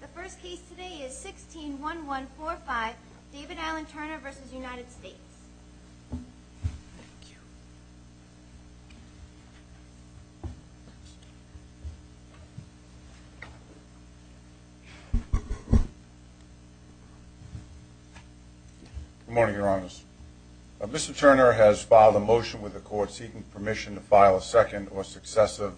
The first case today is 161145, David Alan Turner v. United States. Good morning, Your Honors. Mr. Turner has filed a motion with the Court seeking permission to file a second or successive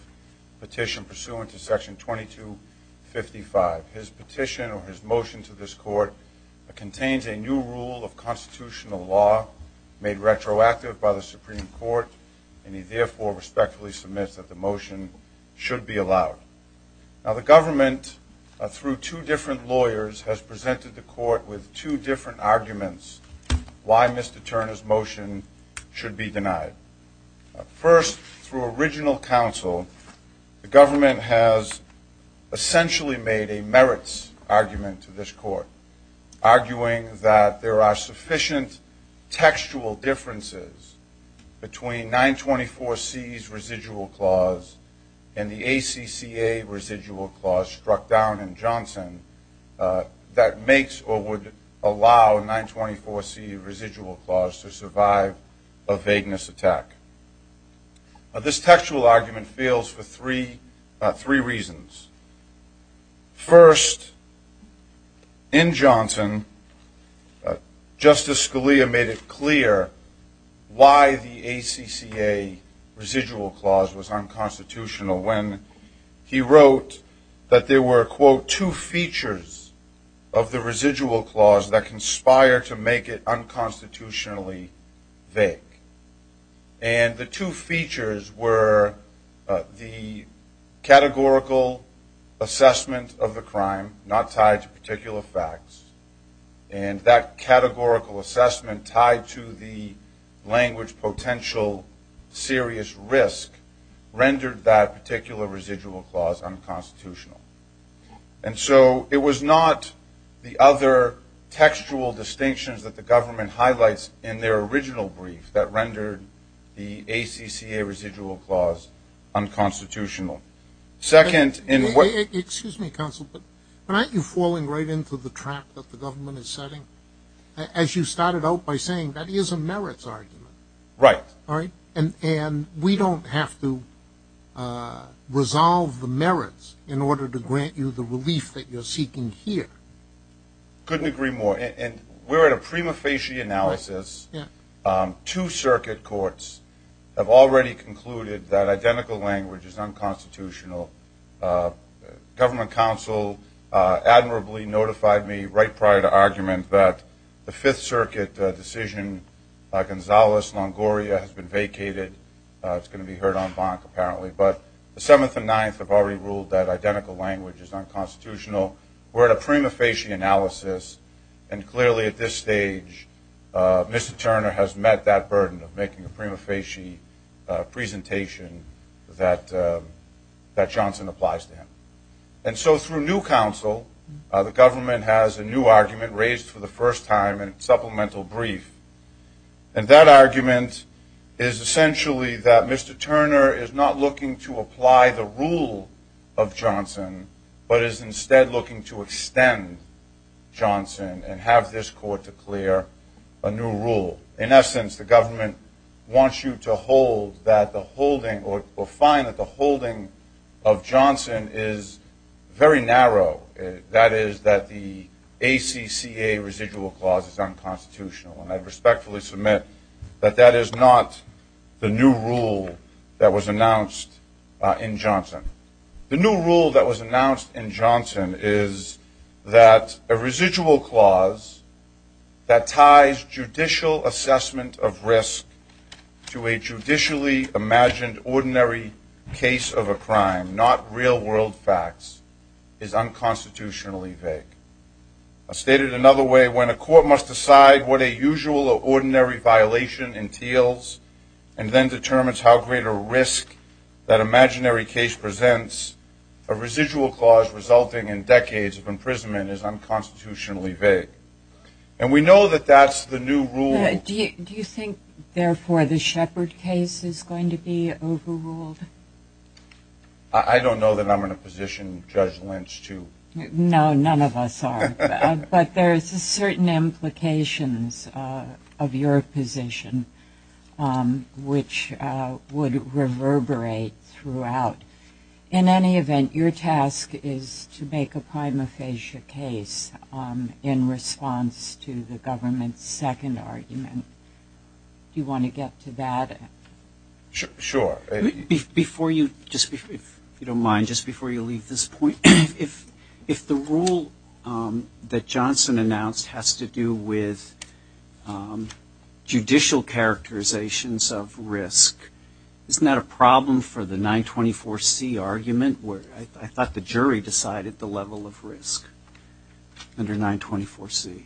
petition pursuant to Section 2255. His petition or his motion to this Court contains a new rule of constitutional law made retroactive by the Supreme Court, and he therefore respectfully submits that the motion should be allowed. Now, the government, through two different lawyers, has presented the Court with two different arguments why Mr. Turner's motion should be denied. First, through original counsel, the government has essentially made a merits argument to this Court, arguing that there are sufficient textual differences between 924C's residual clause and the ACCA residual clause struck down in Johnson that makes or would allow a 924C residual clause to survive a vagueness attack. This textual argument fails for three reasons. First, in Johnson, Justice Scalia made it clear why the ACCA residual clause was unconstitutional when he wrote that there were, quote, two features of the residual clause that conspire to make it unconstitutionally vague. And the two features were the categorical assessment of the crime, not tied to particular facts, and that categorical assessment tied to the language potential serious risk rendered that particular residual clause unconstitutional. And so it was not the other textual distinctions that the government highlights in their original brief that rendered the ACCA residual clause unconstitutional. Second, in what Excuse me, counsel, but aren't you falling right into the trap that the government is setting? As you started out by saying, that is a merits argument. Right. And we don't have to resolve the merits in order to grant you the relief that you're seeking here. Couldn't agree more. And we're at a prima facie analysis. Two circuit courts have already concluded that identical language is unconstitutional. Government counsel admirably notified me right prior to argument that the Fifth Circuit decision, Gonzalez-Longoria, has been vacated. It's going to be heard on bonk, apparently. But the Seventh and Ninth have already ruled that identical language is unconstitutional. We're at a prima facie analysis. And clearly at this stage, Mr. Turner has met that burden of making a prima facie presentation that Johnson applies to him. And so through new counsel, the government has a new argument raised for the first time in a supplemental brief. And that argument is essentially that Mr. Turner is not looking to apply the rule of Johnson but is instead looking to extend Johnson and have this court declare a new rule. In essence, the government wants you to hold that the holding or find that the holding of Johnson is very narrow. That is that the ACCA residual clause is unconstitutional. And I respectfully submit that that is not the new rule that was announced in Johnson. The new rule that was announced in Johnson is that a residual clause that ties judicial assessment of risk to a judicially imagined ordinary case of a crime, not real world facts, is unconstitutionally vague. I'll state it another way. When a court must decide what a usual or ordinary violation entails and then determines how great a risk that imaginary case presents, a residual clause resulting in decades of imprisonment is unconstitutionally vague. And we know that that's the new rule. Do you think, therefore, the Shepard case is going to be overruled? I don't know that I'm in a position, Judge Lynch, to. No, none of us are. But there is a certain implications of your position, which would reverberate throughout. In any event, your task is to make a prima facie case in response to the government's second argument. Do you want to get to that? Sure. If you don't mind, just before you leave this point, if the rule that Johnson announced has to do with judicial characterizations of risk, isn't that a problem for the 924C argument where I thought the jury decided the level of risk under 924C?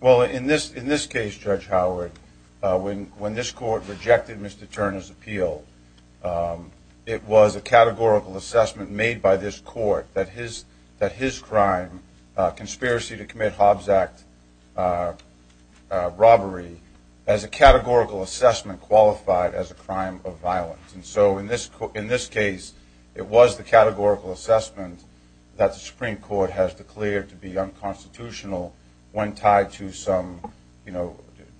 Well, in this case, Judge Howard, when this court rejected Mr. Turner's appeal, it was a categorical assessment made by this court that his crime, conspiracy to commit Hobbs Act robbery, as a categorical assessment qualified as a crime of violence. And so in this case, it was the categorical assessment that the Supreme Court has declared to be unconstitutional when tied to some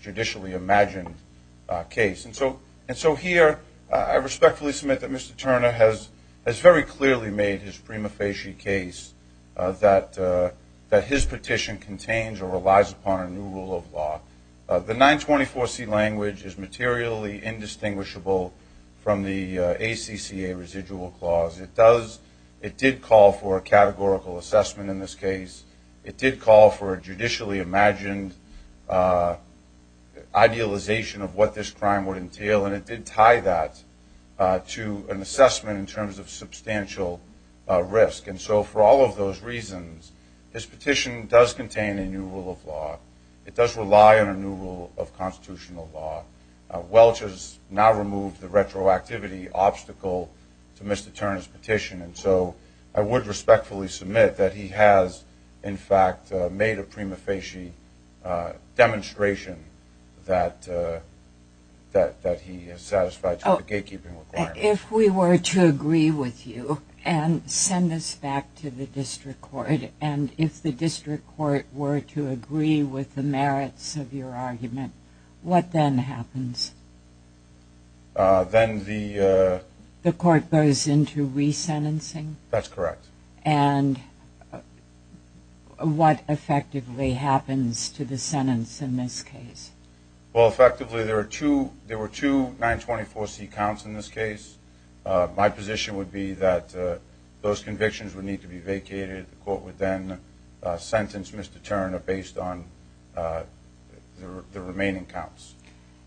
judicially imagined case. And so here, I respectfully submit that Mr. Turner has very clearly made his prima facie case that his petition contains or relies upon a new rule of law. The 924C language is materially indistinguishable from the ACCA residual clause. It did call for a categorical assessment in this case. It did call for a judicially imagined idealization of what this crime would entail, and it did tie that to an assessment in terms of substantial risk. And so for all of those reasons, this petition does contain a new rule of law. It does rely on a new rule of constitutional law. Welch has now removed the retroactivity obstacle to Mr. Turner's petition, and so I would respectfully submit that he has, in fact, made a prima facie demonstration that he is satisfied to the gatekeeping requirements. If we were to agree with you and send this back to the district court, and if the district court were to agree with the merits of your argument, what then happens? The court goes into resentencing? That's correct. And what effectively happens to the sentence in this case? Well, effectively, there were two 924C counts in this case. My position would be that those convictions would need to be vacated. The court would then sentence Mr. Turner based on the remaining counts.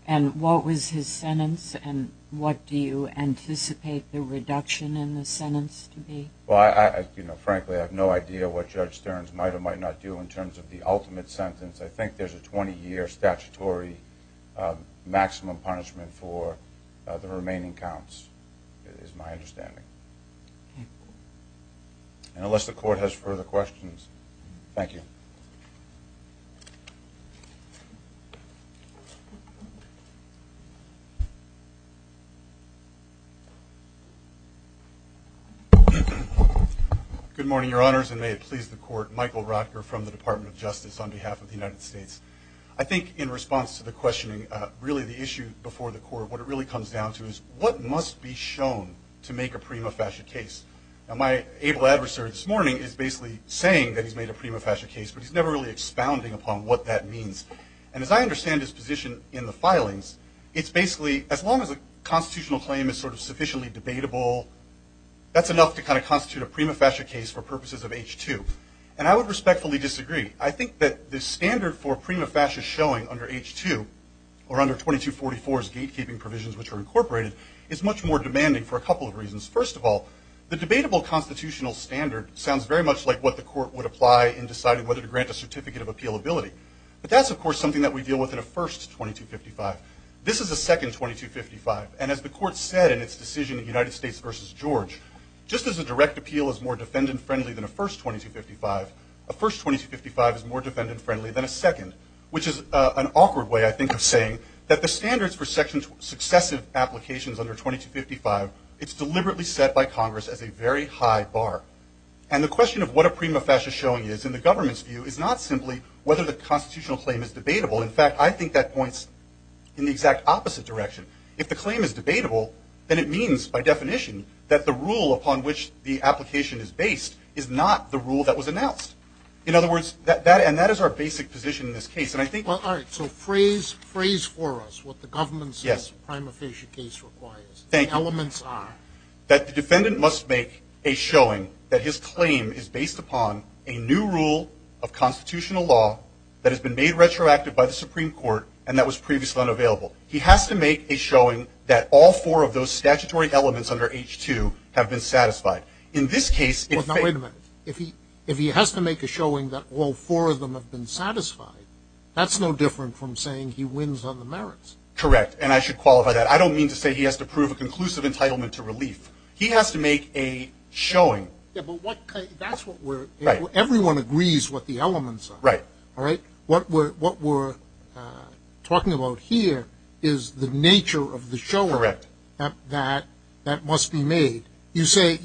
And what was his sentence, and what do you anticipate the reduction in the sentence to be? Frankly, I have no idea what Judge Stearns might or might not do in terms of the ultimate sentence. I think there's a 20-year statutory maximum punishment for the remaining counts is my understanding. And unless the court has further questions, thank you. Good morning, Your Honors, and may it please the court. Michael Rotker from the Department of Justice on behalf of the United States. I think in response to the questioning, really the issue before the court, what it really comes down to is what must be shown to make a prima facie case. Now, my able adversary this morning is basically saying that he's made a prima facie case, but he's never really expounding upon what that means. And as I understand his position in the filings, it's basically, as long as a constitutional claim is sort of sufficiently debatable, that's enough to kind of constitute a prima facie case for purposes of H-2. And I would respectfully disagree. I think that the standard for prima facie showing under H-2, or under 2244's gatekeeping provisions which are incorporated, is much more demanding for a couple of reasons. First of all, the debatable constitutional standard sounds very much like what the court would apply in deciding whether to grant a certificate of appealability. But that's, of course, something that we deal with in a first 2255. This is a second 2255. And as the court said in its decision in United States v. George, just as a direct appeal is more defendant-friendly than a first 2255, a first 2255 is more defendant-friendly than a second, which is an awkward way, I think, of saying that the standards for successive applications under 2255, it's deliberately set by Congress as a very high bar. And the question of what a prima facie showing is in the government's view is not simply whether the constitutional claim is debatable. In fact, I think that points in the exact opposite direction. If the claim is debatable, then it means, by definition, that the rule upon which the application is based is not the rule that was announced. In other words, and that is our basic position in this case. All right, so phrase for us what the government says a prima facie case requires. Thank you. The elements are. That the defendant must make a showing that his claim is based upon a new rule of constitutional law that has been made retroactive by the Supreme Court and that was previously unavailable. He has to make a showing that all four of those statutory elements under H2 have been satisfied. In this case. Wait a minute. If he has to make a showing that all four of them have been satisfied, that's no different from saying he wins on the merits. Correct. And I should qualify that. I don't mean to say he has to prove a conclusive entitlement to relief. He has to make a showing. Yeah, but that's what we're. Right. Everyone agrees what the elements are. Right. All right. What we're talking about here is the nature of the showing. Correct. That must be made. You say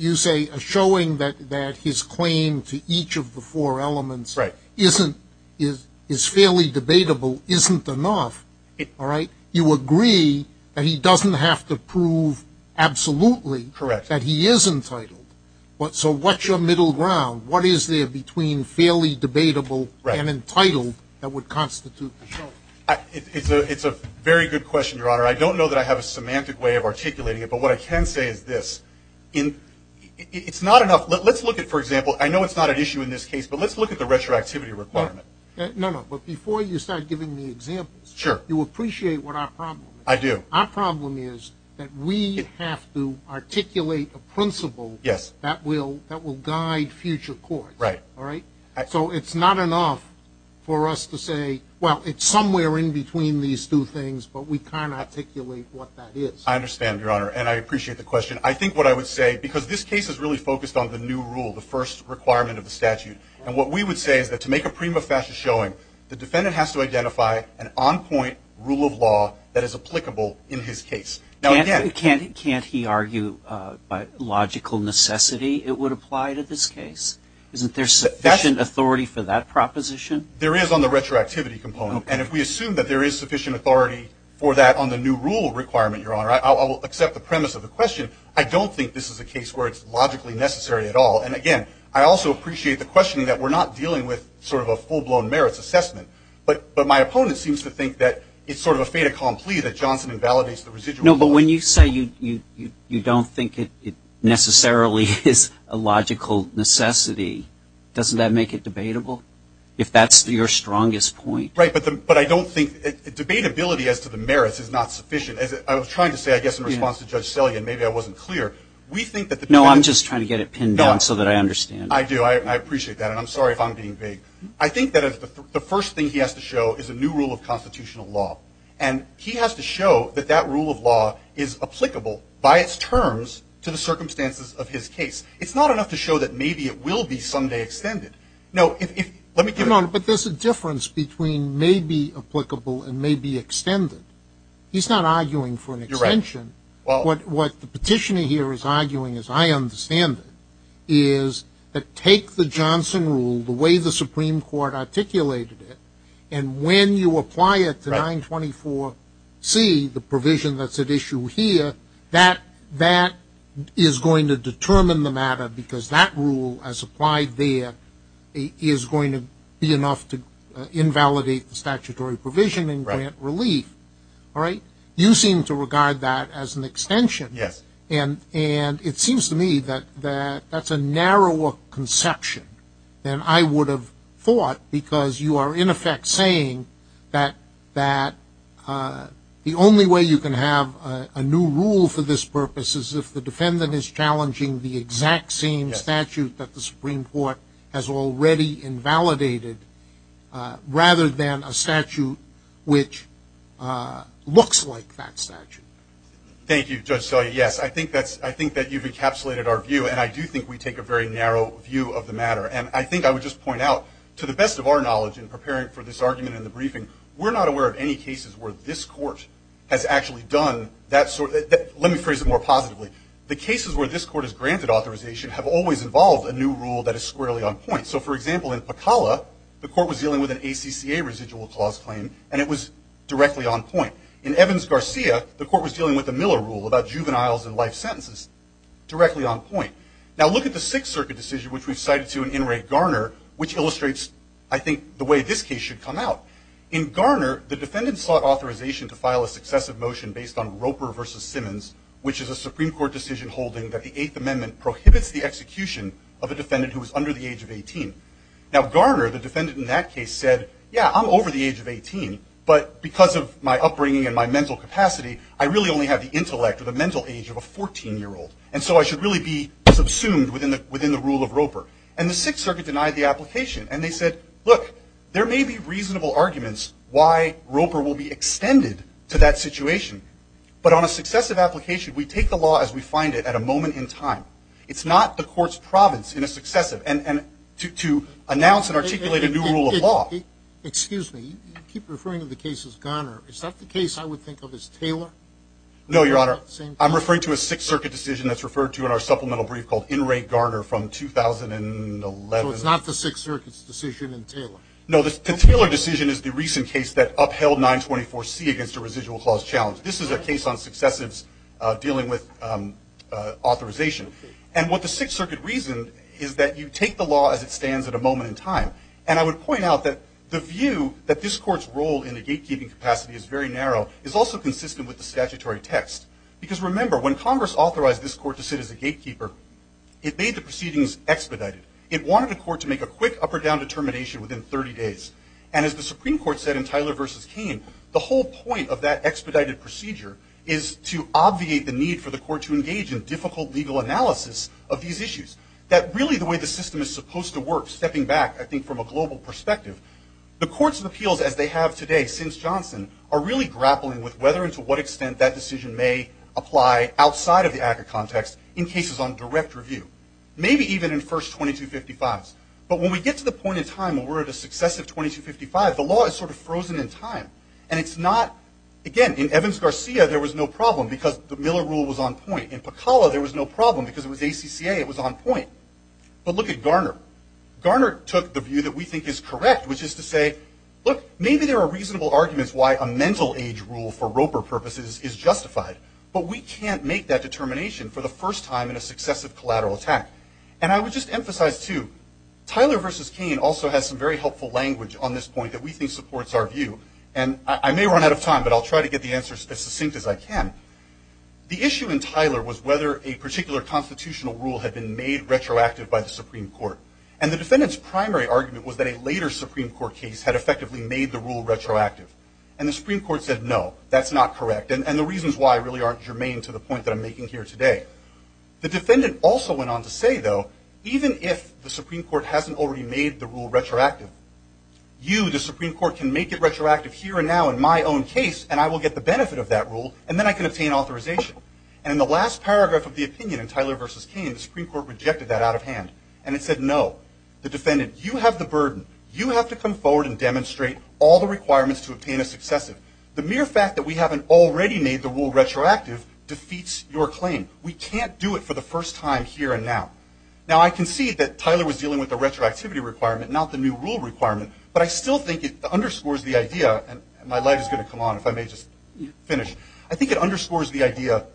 a showing that his claim to each of the four elements. Right. Is fairly debatable isn't enough. All right. You agree that he doesn't have to prove absolutely. Correct. That he is entitled. So what's your middle ground? What is there between fairly debatable and entitled that would constitute the showing? It's a very good question, Your Honor. I don't know that I have a semantic way of articulating it, but what I can say is this. It's not enough. Let's look at, for example, I know it's not an issue in this case, but let's look at the retroactivity requirement. No, no, but before you start giving me examples. Sure. You appreciate what our problem is. I do. Our problem is that we have to articulate a principle. Yes. That will guide future courts. Right. All right. So it's not enough for us to say, well, it's somewhere in between these two things, but we can't articulate what that is. I understand, Your Honor, and I appreciate the question. I think what I would say, because this case is really focused on the new rule, the first requirement of the statute, and what we would say is that to make a prima facie showing, the defendant has to identify an on-point rule of law that is applicable in his case. Can't he argue by logical necessity it would apply to this case? Isn't there sufficient authority for that proposition? There is on the retroactivity component, and if we assume that there is sufficient authority for that on the new rule requirement, Your Honor, I will accept the premise of the question. I don't think this is a case where it's logically necessary at all. And, again, I also appreciate the questioning that we're not dealing with sort of a full-blown merits assessment, but my opponent seems to think that it's sort of a fait accompli that Johnson invalidates the residual. No, but when you say you don't think it necessarily is a logical necessity, doesn't that make it debatable? If that's your strongest point. Right, but I don't think, debatability as to the merits is not sufficient. I was trying to say, I guess, in response to Judge Sellian, maybe I wasn't clear. No, I'm just trying to get it pinned down so that I understand. I do. I appreciate that, and I'm sorry if I'm being vague. I think that the first thing he has to show is a new rule of constitutional law, and he has to show that that rule of law is applicable by its terms to the circumstances of his case. It's not enough to show that maybe it will be someday extended. No, let me get it. But there's a difference between maybe applicable and maybe extended. He's not arguing for an extension. What the petitioner here is arguing, as I understand it, is that take the Johnson rule, the way the Supreme Court articulated it, and when you apply it to 924C, the provision that's at issue here, that is going to determine the matter because that rule, as applied there, is going to be enough to invalidate the statutory provision and grant relief. All right? You seem to regard that as an extension. Yes. And it seems to me that that's a narrower conception than I would have thought because you are, in effect, saying that the only way you can have a new rule for this purpose is if the defendant is challenging the exact same statute that the Supreme Court has already invalidated rather than a statute which looks like that statute. Thank you, Judge Scalia. Yes, I think that you've encapsulated our view, and I do think we take a very narrow view of the matter. And I think I would just point out, to the best of our knowledge in preparing for this argument in the briefing, we're not aware of any cases where this Court has actually done that sort of thing. Let me phrase it more positively. The cases where this Court has granted authorization have always involved a new rule that is squarely on point. So, for example, in Pecala, the Court was dealing with an ACCA residual clause claim, and it was directly on point. In Evans-Garcia, the Court was dealing with the Miller rule about juveniles and life sentences, directly on point. Now, look at the Sixth Circuit decision, which we've cited to an in-rate Garner, which illustrates, I think, the way this case should come out. In Garner, the defendant sought authorization to file a successive motion based on Roper v. Simmons, which is a Supreme Court decision holding that the Eighth Amendment prohibits the execution of a defendant who is under the age of 18. Now, Garner, the defendant in that case, said, yeah, I'm over the age of 18, but because of my upbringing and my mental capacity, I really only have the intellect or the mental age of a 14-year-old. And so I should really be subsumed within the rule of Roper. And the Sixth Circuit denied the application. And they said, look, there may be reasonable arguments why Roper will be extended to that situation, but on a successive application, we take the law as we find it at a moment in time. It's not the Court's province in a successive, and to announce and articulate a new rule of law. Excuse me. You keep referring to the case as Garner. Is that the case I would think of as Taylor? No, Your Honor. I'm referring to a Sixth Circuit decision that's referred to in our supplemental brief called In Re Garner from 2011. So it's not the Sixth Circuit's decision in Taylor? No, the Taylor decision is the recent case that upheld 924C against a residual clause challenge. This is a case on successives dealing with authorization. And what the Sixth Circuit reasoned is that you take the law as it stands at a moment in time. And I would point out that the view that this Court's role in the gatekeeping capacity is very narrow is also consistent with the statutory text. Because remember, when Congress authorized this Court to sit as a gatekeeper, it made the proceedings expedited. It wanted the Court to make a quick up or down determination within 30 days. And as the Supreme Court said in Taylor v. Cain, the whole point of that expedited procedure is to obviate the need for the Court to engage in difficult legal analysis of these issues. That really the way the system is supposed to work, stepping back, I think, from a global perspective, the Court's appeals as they have today since Johnson are really grappling with whether and to what extent that decision may apply outside of the ACCA context in cases on direct review. Maybe even in first 2255s. But when we get to the point in time where we're at a successive 2255, the law is sort of frozen in time. And it's not, again, in Evans-Garcia there was no problem because the Miller Rule was on point. In Pacala there was no problem because it was ACCA. It was on point. But look at Garner. Garner took the view that we think is correct, which is to say, look, maybe there are reasonable arguments why a mental age rule for Roper purposes is justified. But we can't make that determination for the first time in a successive collateral attack. And I would just emphasize, too, Tyler versus Kane also has some very helpful language on this point that we think supports our view. And I may run out of time, but I'll try to get the answers as succinct as I can. The issue in Tyler was whether a particular constitutional rule had been made retroactive by the Supreme Court. And the defendant's primary argument was that a later Supreme Court case had effectively made the rule retroactive. And the Supreme Court said, no, that's not correct. And the reasons why really aren't germane to the point that I'm making here today. The defendant also went on to say, though, even if the Supreme Court hasn't already made the rule retroactive, you, the Supreme Court, can make it retroactive here and now in my own case, and I will get the benefit of that rule, and then I can obtain authorization. And in the last paragraph of the opinion in Tyler versus Kane, the Supreme Court rejected that out of hand. And it said, no, the defendant, you have the burden. You have to come forward and demonstrate all the requirements to obtain a successive. The mere fact that we haven't already made the rule retroactive defeats your claim. We can't do it for the first time here and now. Now, I concede that Tyler was dealing with a retroactivity requirement, not the new rule requirement. But I still think it underscores the idea, and my light is going to come on if I may just finish. I think it underscores the idea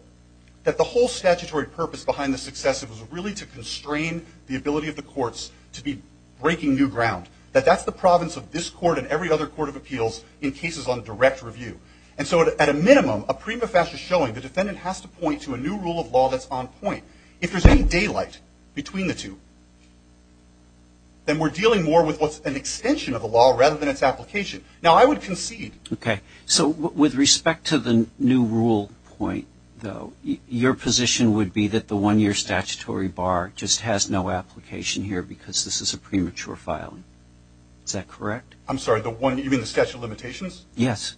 that the whole statutory purpose behind the successive was really to constrain the ability of the courts to be breaking new ground. That that's the province of this court and every other court of appeals in cases on direct review. And so at a minimum, a prima facie showing, the defendant has to point to a new rule of law that's on point. If there's any daylight between the two, then we're dealing more with what's an extension of the law rather than its application. Now, I would concede. Okay. So with respect to the new rule point, though, your position would be that the one-year statutory bar just has no application here because this is a premature filing. Is that correct? I'm sorry. You mean the statute of limitations? Yes.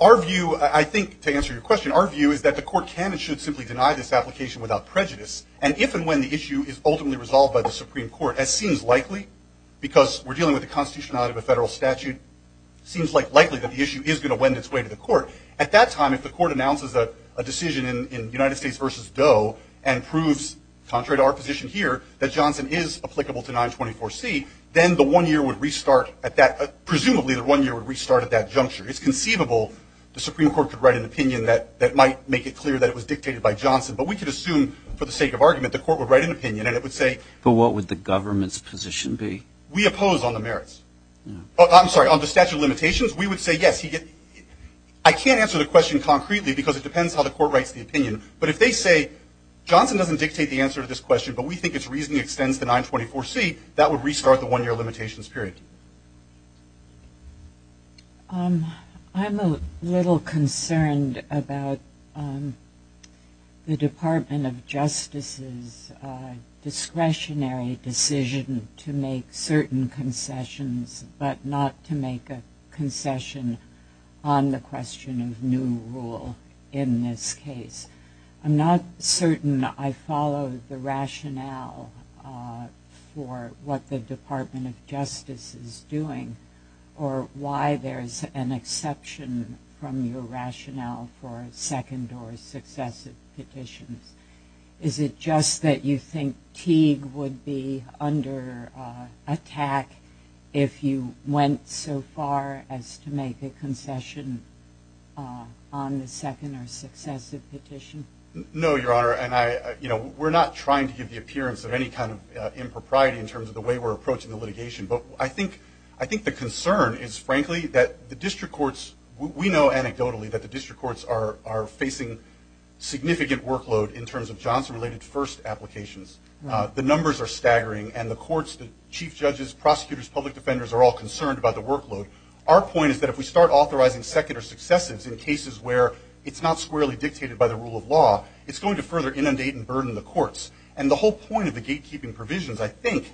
Our view, I think, to answer your question, our view is that the court can and should simply deny this application without prejudice. And if and when the issue is ultimately resolved by the Supreme Court, as seems likely, because we're dealing with the constitutionality of a federal statute, seems likely that the issue is going to wend its way to the court. At that time, if the court announces a decision in United States v. Doe and proves, contrary to our position here, that Johnson is applicable to 924C, then the one-year would restart at that, presumably the one-year would restart at that juncture. It's conceivable the Supreme Court could write an opinion that might make it clear that it was dictated by Johnson. But we could assume, for the sake of argument, the court would write an opinion and it would say. But what would the government's position be? We oppose on the merits. I'm sorry. On the statute of limitations, we would say yes. I can't answer the question concretely because it depends how the court writes the opinion. But if they say Johnson doesn't dictate the answer to this question, but we think its reasoning extends to 924C, that would restart the one-year limitations period. I'm a little concerned about the Department of Justice's discretionary decision to make certain concessions but not to make a concession on the question of new rule in this case. I'm not certain I follow the rationale for what the Department of Justice is doing or why there's an exception from your rationale for a second or successive petitions. Is it just that you think Teague would be under attack if you went so far as to make a concession on the second or successive petition? No, Your Honor. And we're not trying to give the appearance of any kind of impropriety in terms of the way we're approaching the litigation. But I think the concern is, frankly, that the district courts, we know anecdotally that the district courts are facing significant workload in terms of Johnson-related first applications. The numbers are staggering. And the courts, the chief judges, prosecutors, public defenders are all concerned about the workload. Our point is that if we start authorizing second or successives in cases where it's not squarely dictated by the rule of law, it's going to further inundate and burden the courts. And the whole point of the gatekeeping provisions, I think,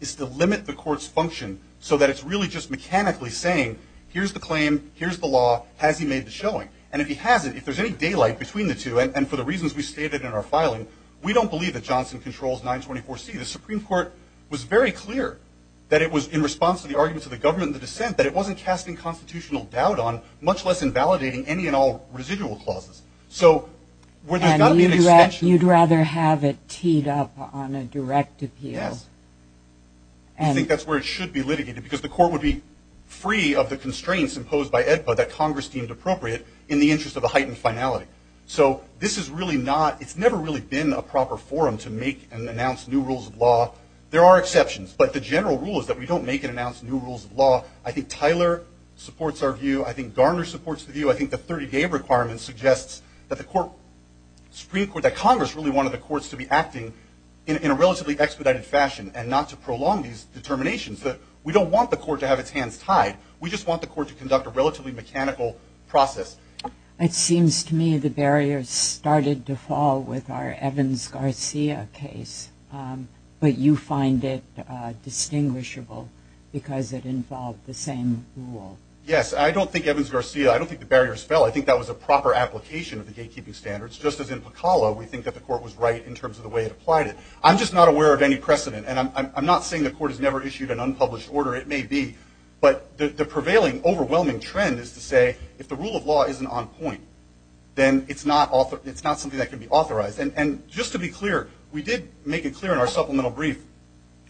is to limit the court's function so that it's really just mechanically saying, here's the claim, here's the law, has he made the showing? And if he hasn't, if there's any daylight between the two, and for the reasons we stated in our filing, we don't believe that Johnson controls 924C. The Supreme Court was very clear that it was in response to the arguments of the government and the dissent that it wasn't casting constitutional doubt on, much less invalidating any and all residual clauses. So where there's not an extension. And you'd rather have it teed up on a direct appeal. Yes. I think that's where it should be litigated, because the court would be free of the constraints imposed by EDPA that Congress deemed appropriate in the interest of a heightened finality. So this is really not, it's never really been a proper forum to make and announce new rules of law. There are exceptions, but the general rule is that we don't make and announce new rules of law. I think Tyler supports our view. I think Garner supports the view. I think the 30-day requirement suggests that the Supreme Court, that Congress really wanted the courts to be acting in a relatively expedited fashion and not to prolong these determinations. We don't want the court to have its hands tied. We just want the court to conduct a relatively mechanical process. It seems to me the barriers started to fall with our Evans-Garcia case. But you find it distinguishable because it involved the same rule. Yes. I don't think Evans-Garcia, I don't think the barriers fell. I think that was a proper application of the gatekeeping standards, just as in Pacala we think that the court was right in terms of the way it applied it. I'm just not aware of any precedent, and I'm not saying the court has never issued an unpublished order. It may be. But the prevailing overwhelming trend is to say if the rule of law isn't on point, then it's not something that can be authorized. And just to be clear, we did make it clear in our supplemental brief,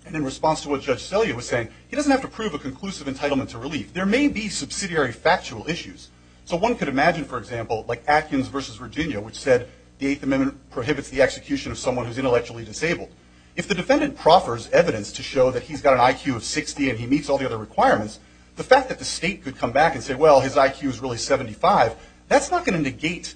and in response to what Judge Sellier was saying, he doesn't have to prove a conclusive entitlement to relief. There may be subsidiary factual issues. So one could imagine, for example, like Atkins versus Virginia, which said the Eighth Amendment prohibits the execution of someone who's intellectually disabled. If the defendant proffers evidence to show that he's got an IQ of 60 and he meets all the other requirements, the fact that the state could come back and say, well, his IQ is really 75, that's not going to negate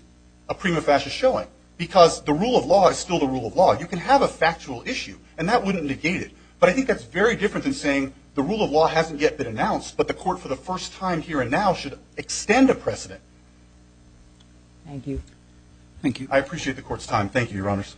a prima facie showing. Because the rule of law is still the rule of law. You can have a factual issue, and that wouldn't negate it. But I think that's very different than saying the rule of law hasn't yet been announced, but the court for the first time here and now should extend a precedent. Thank you. Thank you. I appreciate the court's time. Thank you, Your Honors.